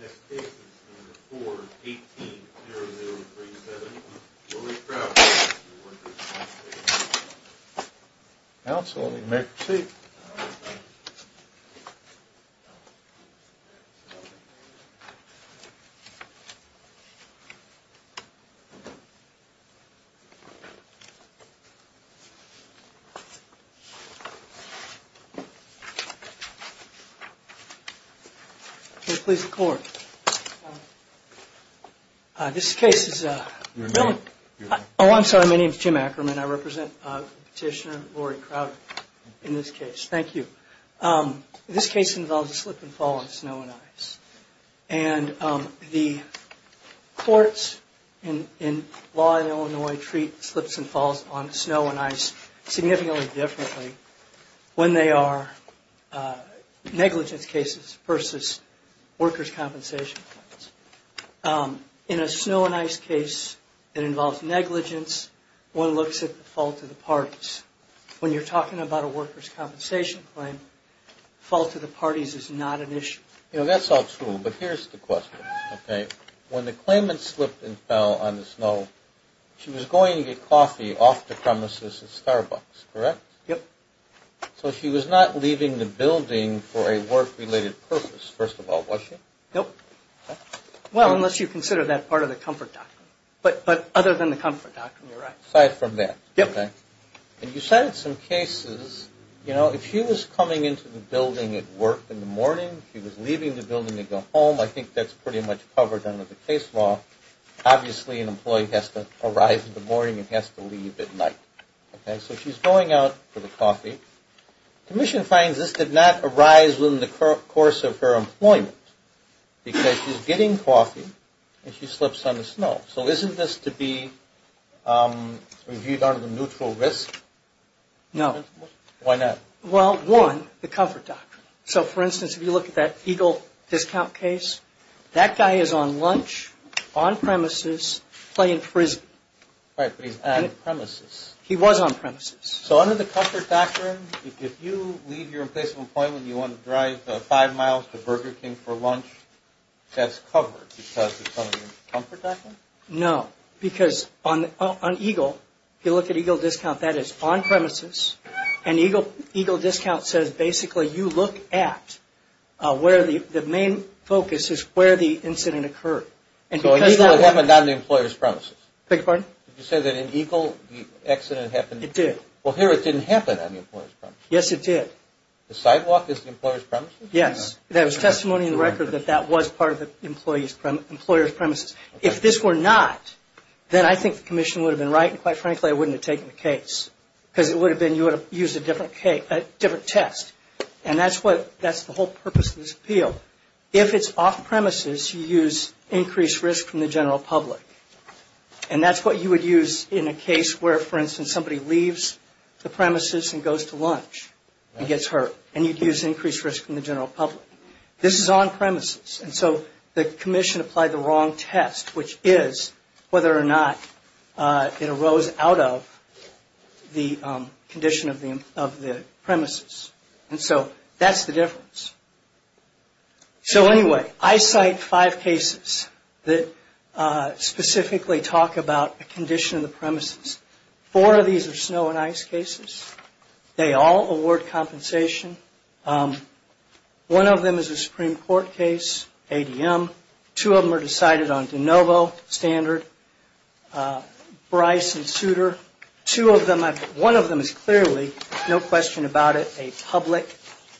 Next case is number 4-18-0037, Willie Crouch of the Workers' Compensation Commission Counsel, let me make a receipt. Here, please, the court. This case involves a slip and fall on snow and ice. And the courts in law in Illinois treat slips and falls on snow and ice significantly differently when they are negligence cases versus workers' compensation claims. In a snow and ice case that involves negligence, one looks at the fault of the parties. When you're talking about a workers' compensation claim, fault of the parties is not an issue. You know, that's all true, but here's the question, okay? When the claimant slipped and fell on the snow, she was going to get coffee off the premises at Starbucks, correct? Yep. So she was not leaving the building for a work-related purpose, first of all, was she? Nope. Well, unless you consider that part of the comfort doctrine. But other than the comfort doctrine, you're right. Aside from that. Yep. And you cited some cases, you know, if she was coming into the building at work in the morning, she was leaving the building to go home, I think that's pretty much covered under the case law. Obviously, an employee has to arrive in the morning and has to leave at night, okay? So she's going out for the coffee. Commission finds this did not arise within the course of her employment because she's getting coffee and she slips on the snow. So isn't this to be reviewed under the neutral risk? No. Why not? Well, one, the comfort doctrine. So, for instance, if you look at that Eagle discount case, that guy is on lunch, on premises, playing frisbee. Right, but he's on premises. He was on premises. So under the comfort doctrine, if you leave your place of employment and you want to drive five miles to Burger King for lunch, that's covered because it's under the comfort doctrine? No, because on Eagle, if you look at Eagle discount, that is on premises, and Eagle discount says basically you look at where the main focus is where the incident occurred. So it's on him and not on the employer's premises. Beg your pardon? Did you say that in Eagle the accident happened? It did. Well, here it didn't happen on the employer's premises. Yes, it did. The sidewalk is the employer's premises? Yes. There was testimony in the record that that was part of the employer's premises. If this were not, then I think the commission would have been right, and quite frankly, I wouldn't have taken the case because it would have been you would have used a different test, and that's the whole purpose of this appeal. If it's off premises, you use increased risk from the general public, and that's what you would use in a case where, for instance, somebody leaves the premises and goes to lunch and gets hurt, and you'd use increased risk from the general public. This is on premises, and so the commission applied the wrong test, which is whether or not it arose out of the condition of the premises, and so that's the difference. So anyway, I cite five cases that specifically talk about a condition of the premises. Four of these are snow and ice cases. They all award compensation. One of them is a Supreme Court case, ADM. Two of them are decided on de novo standard, Bryce and Souter. One of them is clearly, no question about it, a public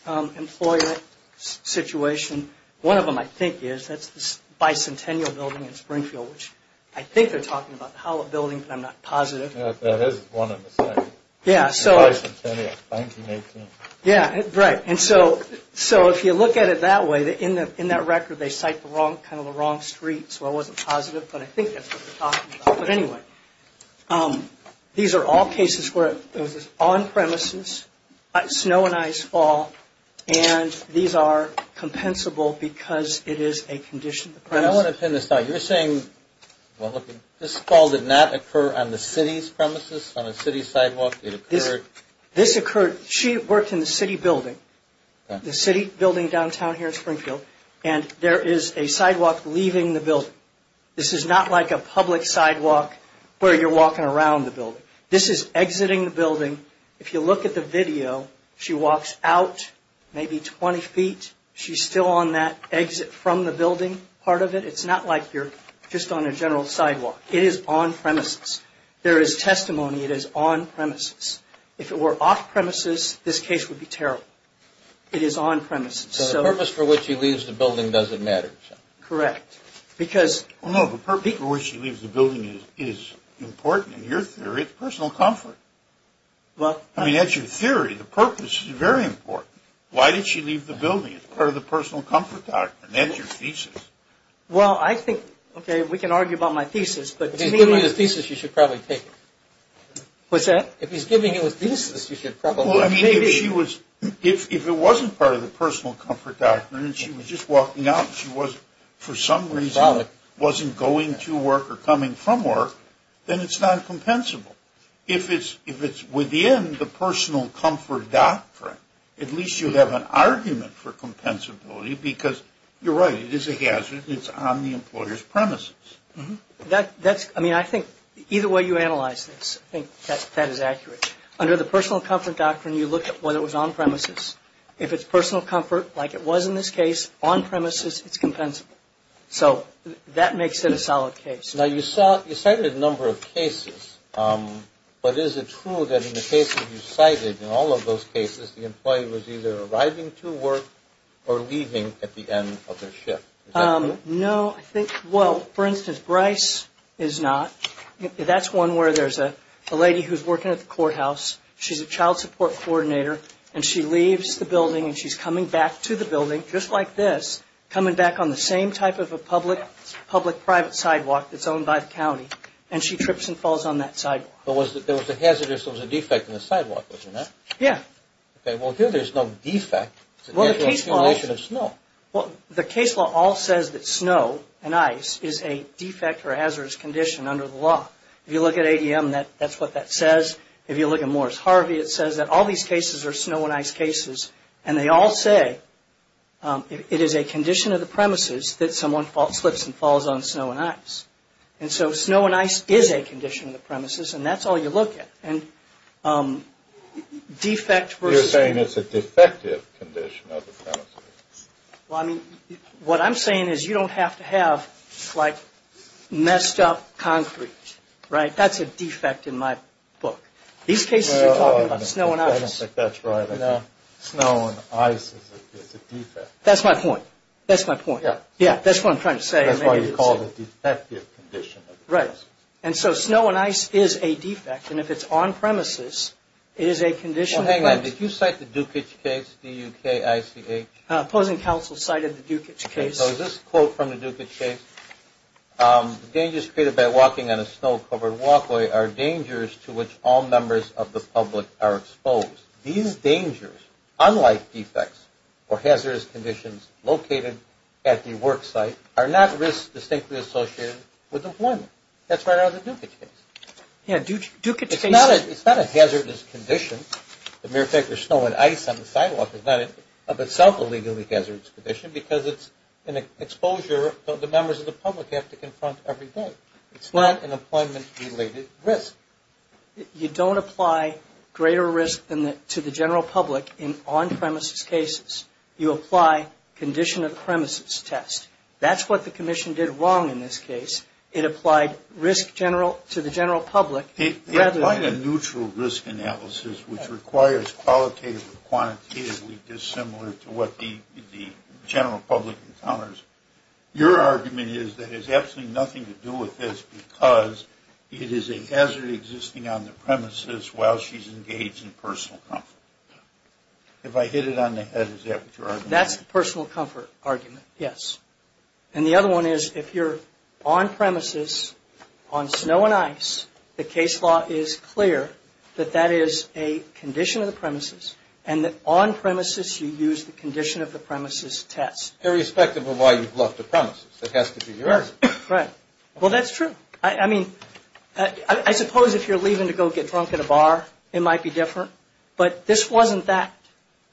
employment situation. One of them I think is, that's the Bicentennial Building in Springfield, which I think they're talking about the Hallett Building, but I'm not positive. That is one of the sites. Yeah, so. Bicentennial, 1918. Yeah, right, and so if you look at it that way, in that record, they cite kind of the wrong street, so I wasn't positive, but I think that's what they're talking about, but anyway. These are all cases where it was on premises, snow and ice fall, and these are compensable because it is a condition of the premises. I want to pin this down. You're saying, well, look, this fall did not occur on the city's premises, on a city sidewalk? It occurred. This occurred, she worked in the city building, the city building downtown here in Springfield, and there is a sidewalk leaving the building. This is not like a public sidewalk where you're walking around the building. This is exiting the building. If you look at the video, she walks out maybe 20 feet. She's still on that exit from the building part of it. It's not like you're just on a general sidewalk. It is on premises. There is testimony. It is on premises. If it were off premises, this case would be terrible. It is on premises. So the purpose for which she leaves the building doesn't matter. Correct. No, the purpose for which she leaves the building is important in your theory. It's personal comfort. I mean, that's your theory. The purpose is very important. Why did she leave the building? It's part of the personal comfort doctrine. That's your thesis. Well, I think, okay, we can argue about my thesis. If he's giving you his thesis, you should probably take it. What's that? If he's giving you his thesis, you should probably take it. Well, I mean, if it wasn't part of the personal comfort doctrine and she was just walking out and she was, for some reason, wasn't going to work or coming from work, then it's not compensable. If it's within the personal comfort doctrine, at least you have an argument for compensability because, you're right, it is a hazard and it's on the employer's premises. I mean, I think either way you analyze this, I think that is accurate. Under the personal comfort doctrine, you look at whether it was on premises. If it's personal comfort, like it was in this case, on premises, it's compensable. So that makes it a solid case. Now, you cited a number of cases, but is it true that in the cases you cited, in all of those cases, the employee was either arriving to work or leaving at the end of their shift? No, I think, well, for instance, Bryce is not. That's one where there's a lady who's working at the courthouse. She's a child support coordinator and she leaves the building and she's coming back to the building, just like this, coming back on the same type of a public-private sidewalk that's owned by the county and she trips and falls on that sidewalk. But there was a hazard, there was a defect in the sidewalk, wasn't there? Yeah. Okay, well, here there's no defect. It's a natural accumulation of snow. Well, the case law all says that snow and ice is a defect or hazardous condition under the law. If you look at ADM, that's what that says. If you look at Morris Harvey, it says that all these cases are snow and ice cases, and they all say it is a condition of the premises that someone slips and falls on snow and ice. And so snow and ice is a condition of the premises, and that's all you look at. You're saying it's a defective condition of the premises. Well, I mean, what I'm saying is you don't have to have, like, messed up concrete, right? That's a defect in my book. These cases are talking about snow and ice. That's right. Snow and ice is a defect. That's my point. That's my point. Yeah, that's what I'm trying to say. That's why you call it a defective condition of the premises. Right. And so snow and ice is a defect, and if it's on premises, it is a condition of the premises. Well, hang on. Did you cite the Dukic case, D-U-K-I-C-H? Opposing counsel cited the Dukic case. So is this a quote from the Dukic case? The dangers created by walking on a snow-covered walkway are dangers to which all members of the public are exposed. These dangers, unlike defects or hazardous conditions located at the work site, are not risks distinctly associated with employment. That's right out of the Dukic case. Yeah, Dukic case. It's not a hazardous condition. The mere fact there's snow and ice on the sidewalk is not of itself a legally hazardous condition because it's an exposure that the members of the public have to confront every day. It's not an employment-related risk. You don't apply greater risk to the general public in on-premises cases. You apply condition of the premises test. That's what the commission did wrong in this case. It applied risk to the general public rather than... It applied a neutral risk analysis which requires qualitative or quantitatively dissimilar to what the general public encounters. Your argument is that it has absolutely nothing to do with this because it is a hazard existing on the premises while she's engaged in personal comfort. If I hit it on the head, is that what you're arguing? That's the personal comfort argument, yes. And the other one is if you're on-premises on snow and ice, the case law is clear that that is a condition of the premises, and that on-premises you use the condition of the premises test. Irrespective of why you've left the premises. That has to be your argument. Right. Well, that's true. I mean, I suppose if you're leaving to go get drunk at a bar, it might be different. But this wasn't that.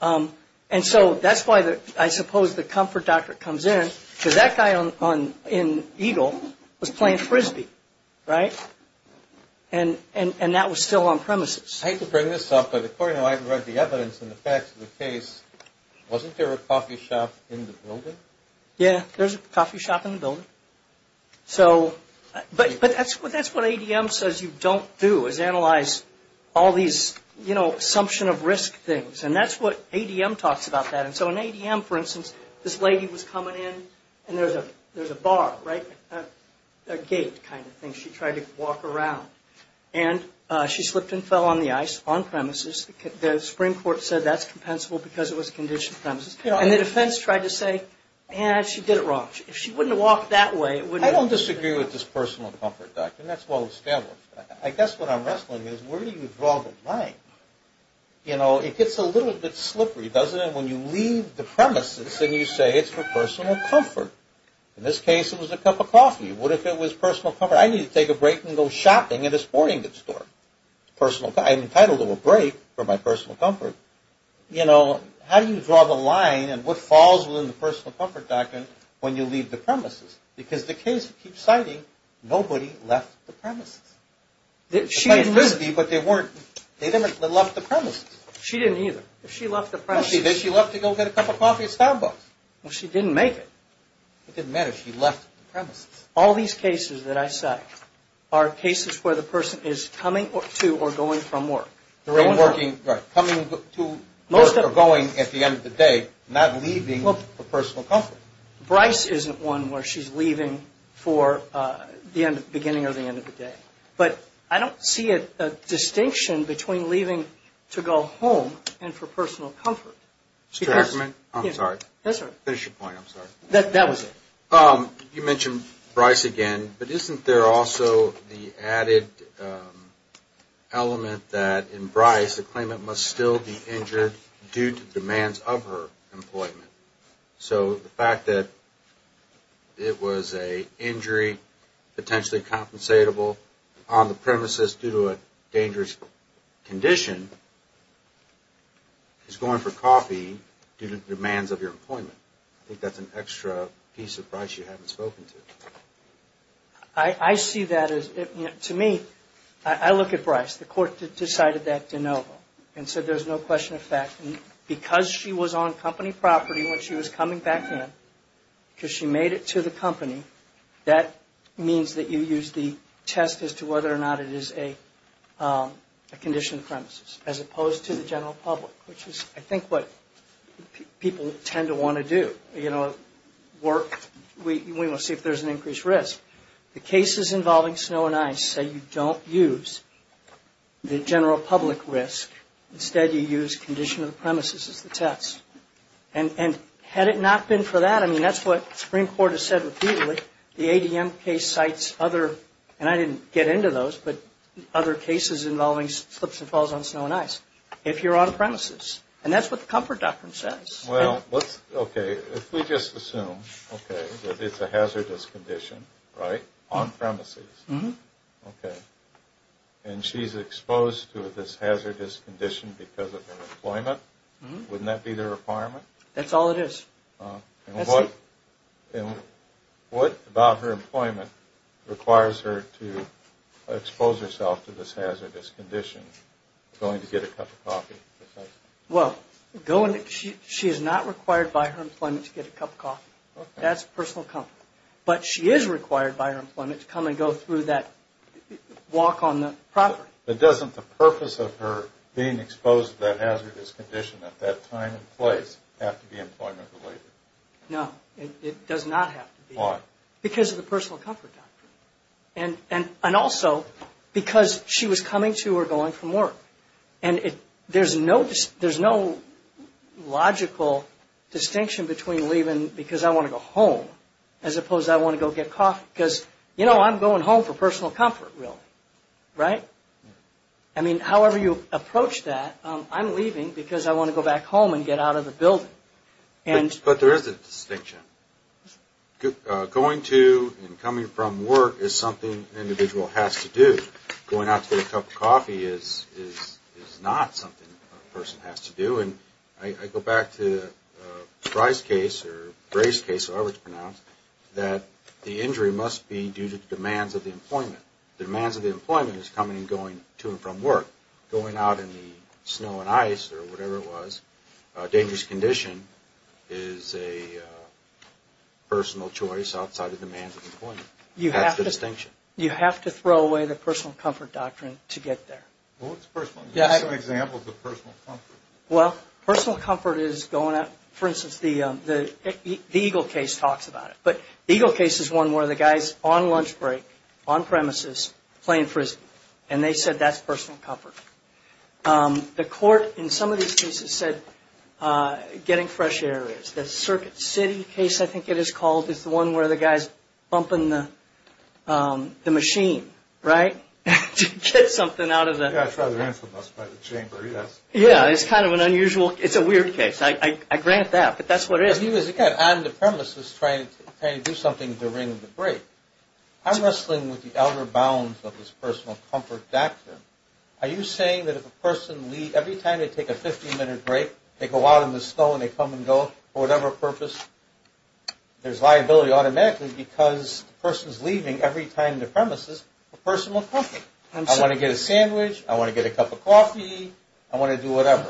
And so that's why I suppose the comfort doctor comes in because that guy in Eagle was playing Frisbee, right? And that was still on-premises. I hate to bring this up, but according to what I've read, the evidence and the facts of the case, wasn't there a coffee shop in the building? Yeah. There's a coffee shop in the building. But that's what ADM says you don't do is analyze all these, you know, assumption of risk things. And that's what ADM talks about that. And so in ADM, for instance, this lady was coming in, and there's a bar, right? A gate kind of thing. She tried to walk around. And she slipped and fell on the ice on-premises. The Supreme Court said that's compensable because it was a conditioned premises. And the defense tried to say, eh, she did it wrong. If she wouldn't have walked that way, it wouldn't have been. I don't disagree with this personal comfort doctor, and that's well established. I guess what I'm wrestling is where do you draw the line? You know, it gets a little bit slippery, doesn't it, when you leave the premises and you say it's for personal comfort? In this case, it was a cup of coffee. What if it was personal comfort? I need to take a break and go shopping at a sporting goods store. I'm entitled to a break for my personal comfort. You know, how do you draw the line and what falls within the personal comfort doctrine when you leave the premises? Because the case keeps citing nobody left the premises. It might have been Lispy, but they didn't have left the premises. She didn't either. If she left the premises. No, she did. She left to go get a cup of coffee at Starbucks. Well, she didn't make it. It didn't matter. She left the premises. All these cases that I cite are cases where the person is coming to or going from work. Right. Coming to work or going at the end of the day, not leaving for personal comfort. Bryce isn't one where she's leaving for the beginning or the end of the day. But I don't see a distinction between leaving to go home and for personal comfort. I'm sorry. Yes, sir. Finish your point. I'm sorry. That was it. Well, you mentioned Bryce again, but isn't there also the added element that in Bryce, the claimant must still be injured due to demands of her employment? So the fact that it was an injury potentially compensatable on the premises due to a dangerous condition is going for coffee due to demands of your employment. I think that's an extra piece of Bryce you haven't spoken to. I see that as, to me, I look at Bryce. The court decided that de novo and said there's no question of fact. And because she was on company property when she was coming back in, because she made it to the company, that means that you use the test as to whether or not it is a conditioned premises, as opposed to the general public, which is, I think, what people tend to want to do. We will see if there's an increased risk. The cases involving Snow and Ice say you don't use the general public risk. Instead, you use condition of the premises as the test. And had it not been for that, I mean, that's what the Supreme Court has said repeatedly. The ADM case cites other, and I didn't get into those, but other cases involving slips and falls on Snow and Ice, if you're on premises. And that's what the Comfort Doctrine says. Well, okay, if we just assume, okay, that it's a hazardous condition, right, on premises, okay, and she's exposed to this hazardous condition because of her employment, wouldn't that be the requirement? That's all it is. That's it. And what about her employment requires her to expose herself to this hazardous condition, going to get a cup of coffee? Well, she is not required by her employment to get a cup of coffee. That's personal comfort. But she is required by her employment to come and go through that walk on the property. But doesn't the purpose of her being exposed to that hazardous condition at that time and place have to be employment related? No, it does not have to be. Why? Because of the personal comfort doctrine. And also because she was coming to or going from work. And there's no logical distinction between leaving because I want to go home as opposed to I want to go get coffee, because, you know, I'm going home for personal comfort, really, right? I mean, however you approach that, I'm leaving because I want to go back home and get out of the building. But there is a distinction. Going to and coming from work is something an individual has to do. Going out to get a cup of coffee is not something a person has to do. I go back to Fry's case or Bray's case, however it's pronounced, that the injury must be due to demands of the employment. The demands of the employment is coming and going to and from work. Going out in the snow and ice or whatever it was, a dangerous condition, is a personal choice outside of demands of employment. That's the distinction. You have to throw away the personal comfort doctrine to get there. Well, what's personal? Give us an example of the personal comfort. Well, personal comfort is going out. For instance, the Eagle case talks about it. But the Eagle case is one where the guy's on lunch break, on premises, playing frisbee. And they said that's personal comfort. The court in some of these cases said getting fresh air is. The Circuit City case, I think it is called, is the one where the guy's bumping the machine, right, to get something out of the. Yeah, it's rather infamous by the Chamber, yes. Yeah, it's kind of an unusual. It's a weird case. I grant that. But that's what it is. He was, again, on the premises trying to do something during the break. I'm wrestling with the outer bounds of this personal comfort doctrine. Are you saying that if a person, every time they take a 15-minute break, they go out in the snow and they come and go for whatever purpose, there's liability automatically because the person's leaving every time the premises for personal comfort. I want to get a sandwich. I want to get a cup of coffee. I want to do whatever.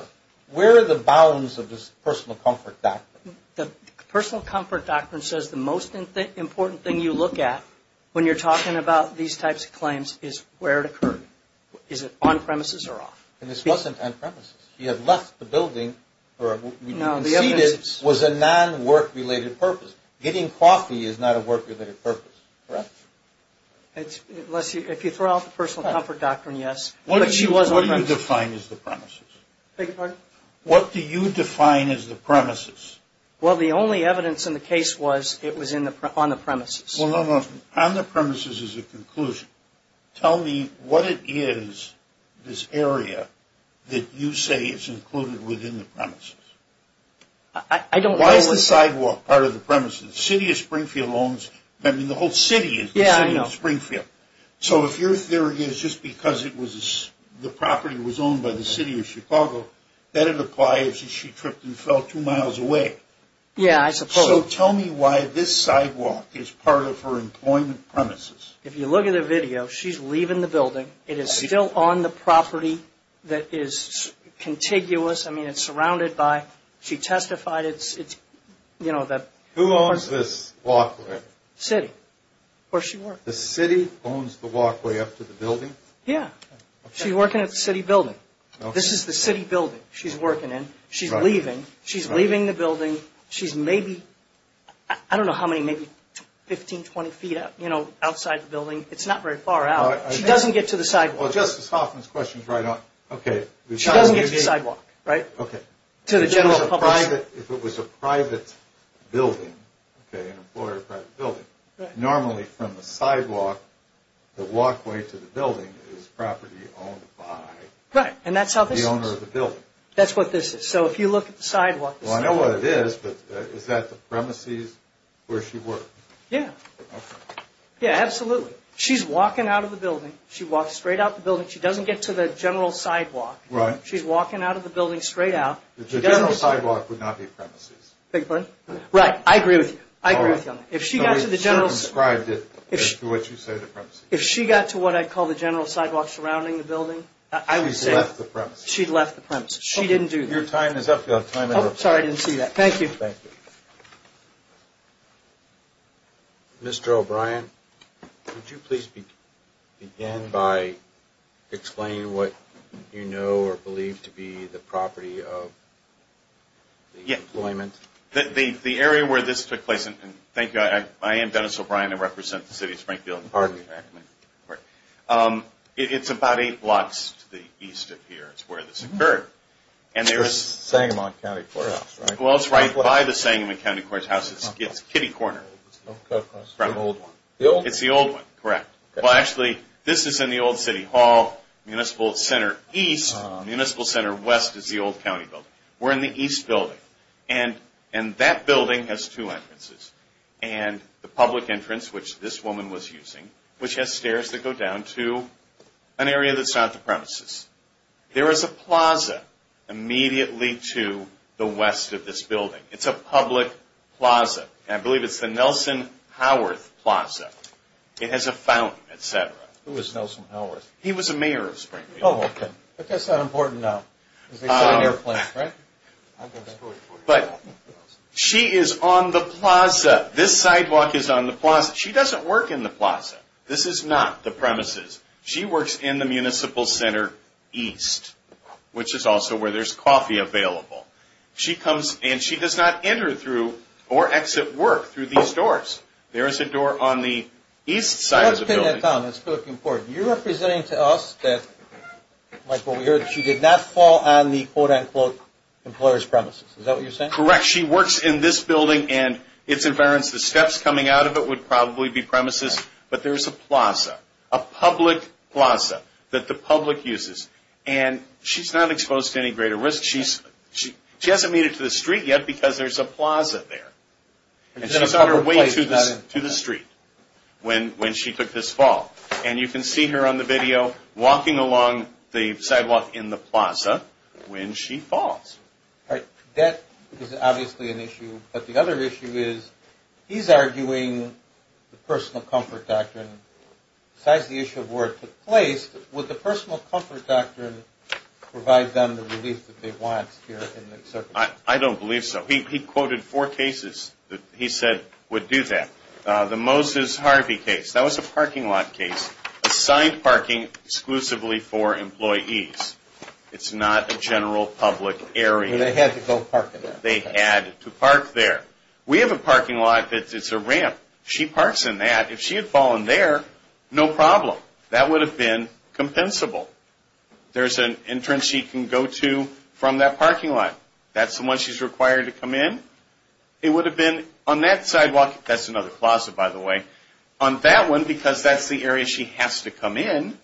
Where are the bounds of this personal comfort doctrine? The personal comfort doctrine says the most important thing you look at when you're talking about these types of claims is where it occurred. Is it on premises or off? And this wasn't on premises. She had left the building, or we conceded it was a non-work-related purpose. Getting coffee is not a work-related purpose, correct? Unless you throw out the personal comfort doctrine, yes. But she was on premises. What do you define as the premises? Beg your pardon? What do you define as the premises? Well, the only evidence in the case was it was on the premises. Well, no, no. On the premises is a conclusion. Tell me what it is, this area, that you say is included within the premises. I don't know what it is. Why is the sidewalk part of the premises? The city of Springfield owns, I mean the whole city is the city of Springfield. Yeah, I know. So if your theory is just because the property was owned by the city of Chicago, then it applies that she tripped and fell two miles away. Yeah, I suppose. So tell me why this sidewalk is part of her employment premises. If you look at the video, she's leaving the building. It is still on the property that is contiguous. I mean, it's surrounded by, she testified it's, you know, the Who owns this walkway? City. Where she works. The city owns the walkway up to the building? Yeah. She's working at the city building. She's leaving. She's leaving the building. She's maybe, I don't know how many, maybe 15, 20 feet up, you know, outside the building. It's not very far out. She doesn't get to the sidewalk. Well, Justice Hoffman's question is right on. Okay. She doesn't get to the sidewalk, right? Okay. To the general public. If it was a private building, okay, an employer private building, normally from the sidewalk, the walkway to the building is property owned by the owner of the building. Right, and that's how this is. That's what this is. So if you look at the sidewalk. Well, I know what it is, but is that the premises where she works? Yeah. Okay. Yeah, absolutely. She's walking out of the building. She walks straight out of the building. She doesn't get to the general sidewalk. Right. She's walking out of the building straight out. The general sidewalk would not be premises. Beg your pardon? Right, I agree with you. I agree with you on that. If she got to the general. I circumscribed it to what you say the premises. If she got to what I call the general sidewalk surrounding the building. I would say. She left the premises. She left the premises. She didn't do this. Your time is up. Sorry, I didn't see that. Thank you. Thank you. Mr. O'Brien, would you please begin by explaining what you know or believe to be the property of the employment? The area where this took place, and thank you, I am Dennis O'Brien. I represent the City of Springfield. Pardon me. It's about eight blocks to the east of here is where this occurred. Sangamon County Courthouse, right? Well, it's right by the Sangamon County Courthouse. It's Kitty Corner. The old one. It's the old one, correct. Well, actually, this is in the old city hall. Municipal Center East. Municipal Center West is the old county building. We're in the east building. And that building has two entrances. And the public entrance, which this woman was using, which has stairs that go down to an area that's not the premises. There is a plaza immediately to the west of this building. It's a public plaza. And I believe it's the Nelson Howarth Plaza. It has a fountain, et cetera. Who is Nelson Howarth? He was a mayor of Springfield. Oh, okay. But that's not important now. Because they sell airplanes, right? But she is on the plaza. This sidewalk is on the plaza. She doesn't work in the plaza. This is not the premises. She works in the Municipal Center East, which is also where there's coffee available. She comes and she does not enter through or exit work through these doors. There is a door on the east side of the building. You're representing to us that she did not fall on the, quote, unquote, employer's premises. Is that what you're saying? Correct. She works in this building. And it's inference, the steps coming out of it would probably be premises. But there's a plaza, a public plaza that the public uses. And she's not exposed to any greater risk. She hasn't made it to the street yet because there's a plaza there. And she's on her way to the street when she took this fall. And you can see her on the video walking along the sidewalk in the plaza when she falls. All right. That is obviously an issue. But the other issue is he's arguing the personal comfort doctrine. Besides the issue of where it took place, would the personal comfort doctrine provide them the relief that they want here? I don't believe so. He quoted four cases that he said would do that. The Moses Harvey case, that was a parking lot case, assigned parking exclusively for employees. It's not a general public area. They had to go park there. They had to park there. We have a parking lot that's a ramp. She parks in that. If she had fallen there, no problem. That would have been compensable. There's an entrance she can go to from that parking lot. That's the one she's required to come in. It would have been on that sidewalk. That's another plaza, by the way. On that one, because that's the area she has to come in,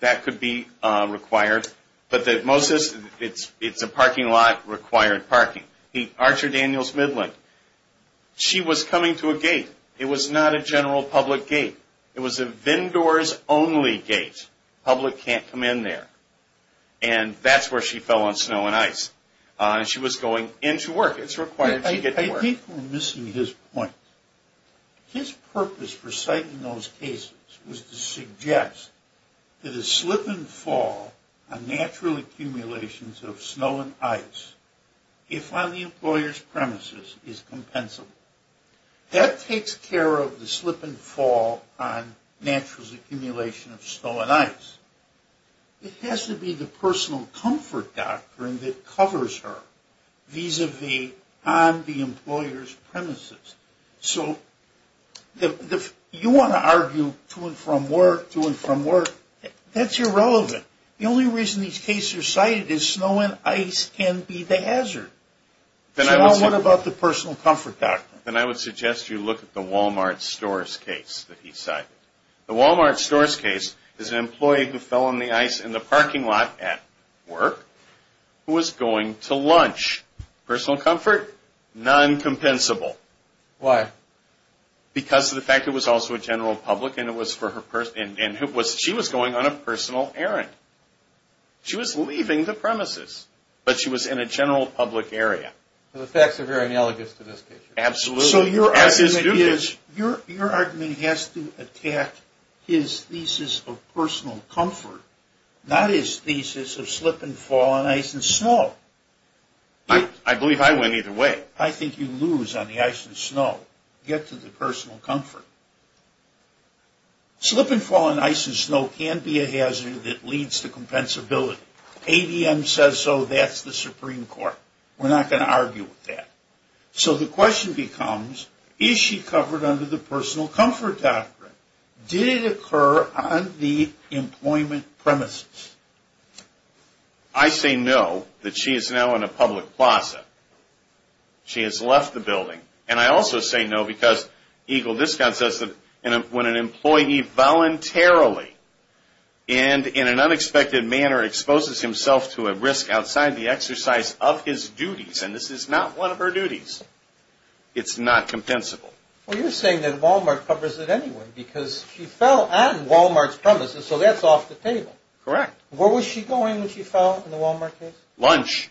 that could be required. But Moses, it's a parking lot, required parking. Archer Daniels Midland, she was coming to a gate. It was not a general public gate. It was a vendors-only gate. Public can't come in there. And that's where she fell on snow and ice. She was going into work. It's required she get to work. I think we're missing his point. His purpose for citing those cases was to suggest that a slip and fall on natural accumulations of snow and ice, if on the employer's premises, is compensable. That takes care of the slip and fall on natural accumulation of snow and ice. It has to be the personal comfort doctrine that covers her vis-a-vis on the You want to argue to and from work, to and from work. That's irrelevant. The only reason these cases are cited is snow and ice can be the hazard. So what about the personal comfort doctrine? Then I would suggest you look at the Walmart Stores case that he cited. The Walmart Stores case is an employee who fell on the ice in the parking lot at work who was going to lunch. Personal comfort? Non-compensable. Why? Because of the fact it was also a general public and she was going on a personal errand. She was leaving the premises, but she was in a general public area. The facts are very analogous to this case. Absolutely. So your argument is, your argument has to attack his thesis of personal comfort, not his thesis of slip and fall on ice and snow. I believe I win either way. I think you lose on the ice and snow. Get to the personal comfort. Slip and fall on ice and snow can be a hazard that leads to compensability. ADM says so, that's the Supreme Court. We're not going to argue with that. So the question becomes, is she covered under the personal comfort doctrine? Did it occur on the employment premises? I say no, that she is now in a public plaza. She has left the building. And I also say no because Eagle Discount says that when an employee voluntarily and in an unexpected manner exposes himself to a risk outside the exercise of his duties, and this is not one of her duties, it's not compensable. Well, you're saying that Walmart covers it anyway because she fell on Walmart's premises, so that's off the table. Correct. Where was she going when she fell in the Walmart case? Lunch.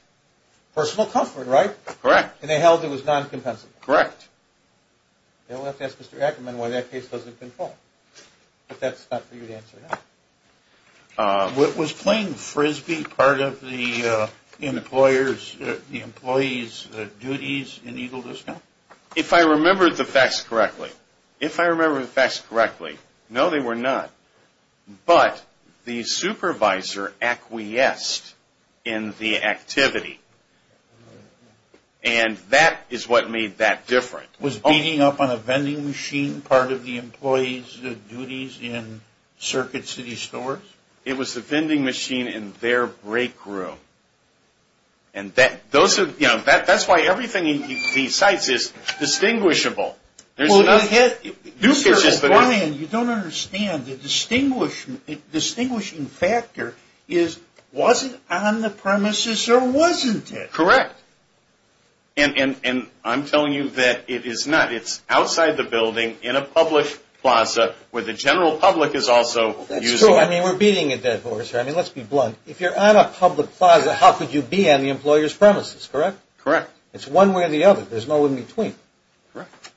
Personal comfort, right? Correct. And they held it was non-compensable. Correct. We'll have to ask Mr. Ackerman why that case doesn't control, but that's not for you to answer now. Was playing Frisbee part of the employer's, the employee's duties in Eagle Discount? If I remember the facts correctly, if I remember the facts correctly, no, they were not. But the supervisor acquiesced in the activity, and that is what made that different. Was beating up on a vending machine part of the employee's duties in Circuit City Stores? It was the vending machine in their break room. And that's why everything he cites is distinguishable. You don't understand. The distinguishing factor is was it on the premises or wasn't it? Correct. And I'm telling you that it is not. It's outside the building in a public plaza where the general public is also using it. I mean, we're beating a dead horse here. I mean, let's be blunt. If you're on a public plaza, how could you be on the employer's premises, correct? Correct. It's one way or the other. There's no in-between. Correct.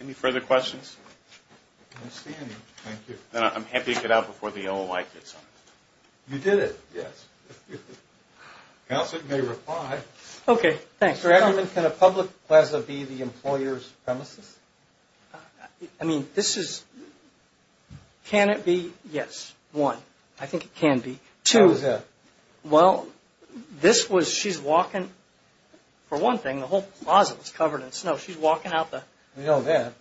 Any further questions? I don't see any. Thank you. Then I'm happy to get out before the OOI gets on us. You did it. Yes. Counselor, you may reply. Okay. Thanks. Mr. Edgerman, can a public plaza be the employer's premises? I mean, this is, can it be? Yes, one. I think it can be. Two. How is that? Well, this was, she's walking, for one thing, the whole plaza was covered in snow. She's walking out the. We know that.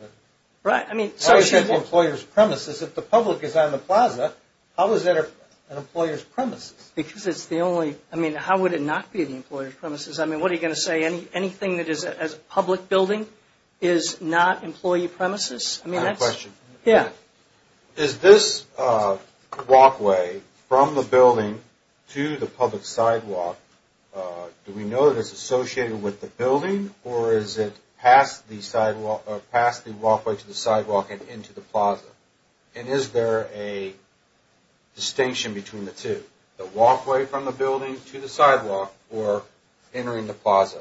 Right. I mean, so she's. How is that the employer's premises? If the public is on the plaza, how is that an employer's premises? Because it's the only, I mean, how would it not be the employer's premises? I mean, what are you going to say? Anything that is a public building is not employee premises? I have a question. Yeah. Is this walkway from the building to the public sidewalk, do we know that it's associated with the building, or is it past the sidewalk or past the walkway to the sidewalk and into the plaza? And is there a distinction between the two, the walkway from the building to the sidewalk or entering the plaza?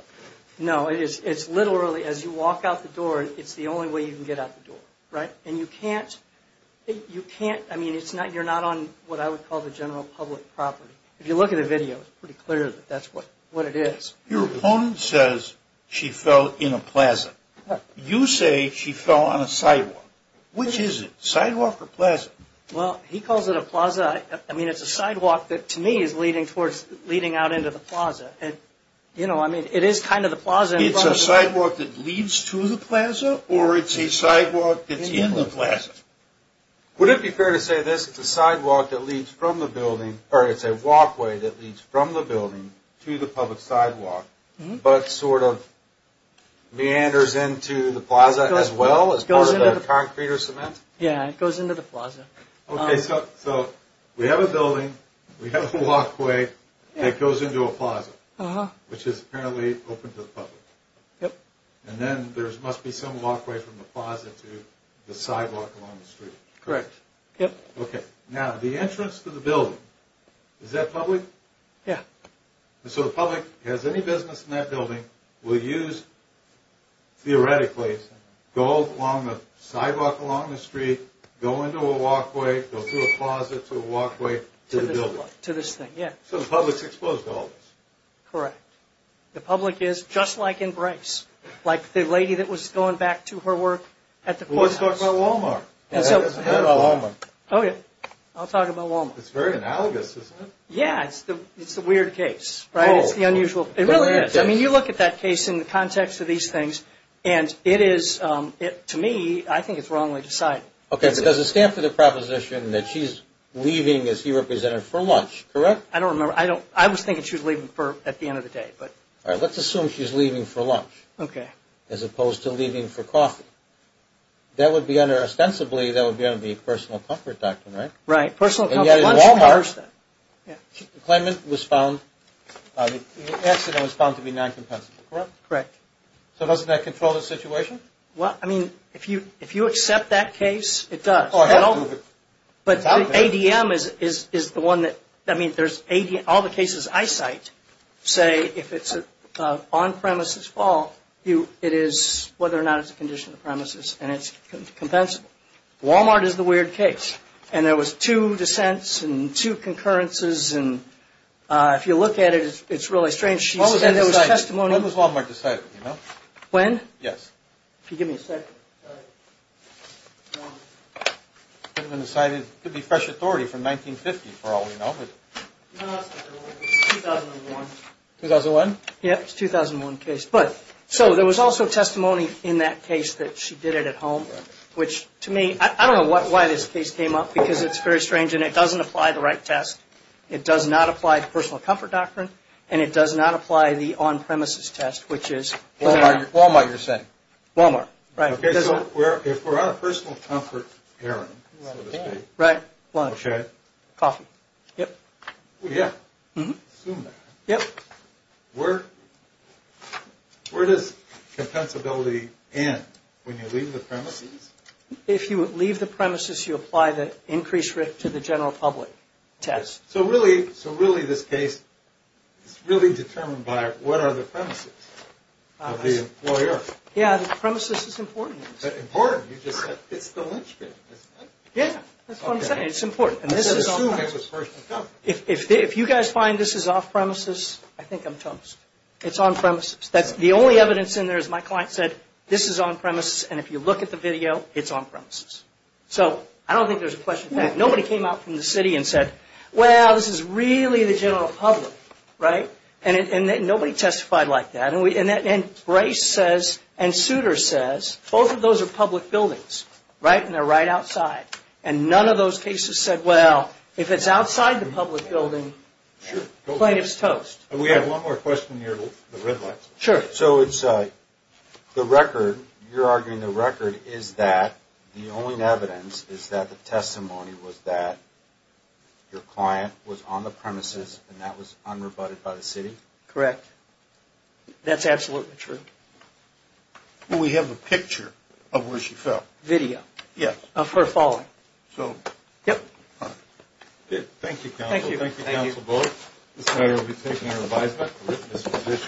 No, it's literally, as you walk out the door, it's the only way you can get out the door. Right. And you can't, I mean, you're not on what I would call the general public property. If you look at the video, it's pretty clear that that's what it is. Your opponent says she fell in a plaza. What? You say she fell on a sidewalk. Which is it, sidewalk or plaza? Well, he calls it a plaza. I mean, it's a sidewalk that, to me, is leading out into the plaza. And, you know, I mean, it is kind of the plaza. It's a sidewalk that leads to the plaza, or it's a sidewalk that's in the plaza? Would it be fair to say this, it's a sidewalk that leads from the building, or it's a walkway that leads from the building to the public sidewalk, but sort of meanders into the plaza as well as part of the concrete or cement? Yeah, it goes into the plaza. Okay, so we have a building, we have a walkway that goes into a plaza, which is apparently open to the public. Yep. And then there must be some walkway from the plaza to the sidewalk along the street. Correct, yep. Okay, now the entrance to the building, is that public? Yeah. So the public has any business in that building will use, theoretically, go along the sidewalk along the street, go into a walkway, go through a plaza to a walkway to the building. To this thing, yeah. So the public's exposed to all this. Correct. The public is, just like in Bryce, like the lady that was going back to her work at the courts. Let's talk about Walmart. Let's talk about Walmart. Oh, yeah. I'll talk about Walmart. It's very analogous, isn't it? Yeah, it's the weird case, right? It's the unusual. It really is. I mean, you look at that case in the context of these things, and it is, to me, I think it's wrongly decided. Okay, because it stands for the proposition that she's leaving, as he represented, for lunch, correct? I don't remember. I was thinking she was leaving at the end of the day. All right, let's assume she's leaving for lunch. Okay. As opposed to leaving for coffee. That would be under, ostensibly, that would be under the personal comfort doctrine, right? Right, personal comfort. And yet in Walmart, the claimant was found, the accident was found to be non-compensable, correct? Correct. So doesn't that control the situation? Well, I mean, if you accept that case, it does. But ADM is the one that, I mean, all the cases I cite say, if it's an on-premises fall, it is whether or not it's a condition of the premises, and it's compensable. Walmart is the weird case. And there was two dissents and two concurrences, and if you look at it, it's really strange. She said there was testimony. When was Walmart decided, you know? When? Yes. If you give me a second. Sorry. It could have been decided. It could be fresh authority from 1950, for all we know. No, that's not true. It's 2001. 2001? Yeah, it's a 2001 case. But so there was also testimony in that case that she did it at home, which to me, I don't know why this case came up, because it's very strange, and it doesn't apply the right test. It does not apply the personal comfort doctrine, and it does not apply the on-premises test, which is Walmart. Walmart, you're saying. Walmart, right. Okay, so if we're on a personal comfort errand, so to speak. Right, lunch. Okay. Coffee. Yep. Yeah. Assume that. Yep. Where does compensability end? When you leave the premises? If you leave the premises, you apply the increased risk to the general public test. So really, this case is really determined by what are the premises of the employer? Yeah, the premises is important. Important? You just said it's the lunchroom, isn't it? Yeah, that's what I'm saying. It's important. Assume it was personal comfort. If you guys find this is off-premises, I think I'm toast. It's on-premises. The only evidence in there is my client said, this is on-premises, and if you look at the video, it's on-premises. So I don't think there's a question of that. Nobody came out from the city and said, well, this is really the general public, right? And nobody testified like that. And Bryce says and Souter says, both of those are public buildings, right, and they're right outside. And none of those cases said, well, if it's outside the public building, plaintiff's toast. We have one more question near the red light. Sure. So the record, you're arguing the record is that the only evidence is that the testimony was that your client was on the premises and that was unrebutted by the city? Correct. That's absolutely true. Well, we have a picture of where she fell. Video. Yes. Of her falling. So. Yep. Good. Thank you, counsel. Thank you. Thank you, counsel Bullock. This matter will be taken and revised back to witness position.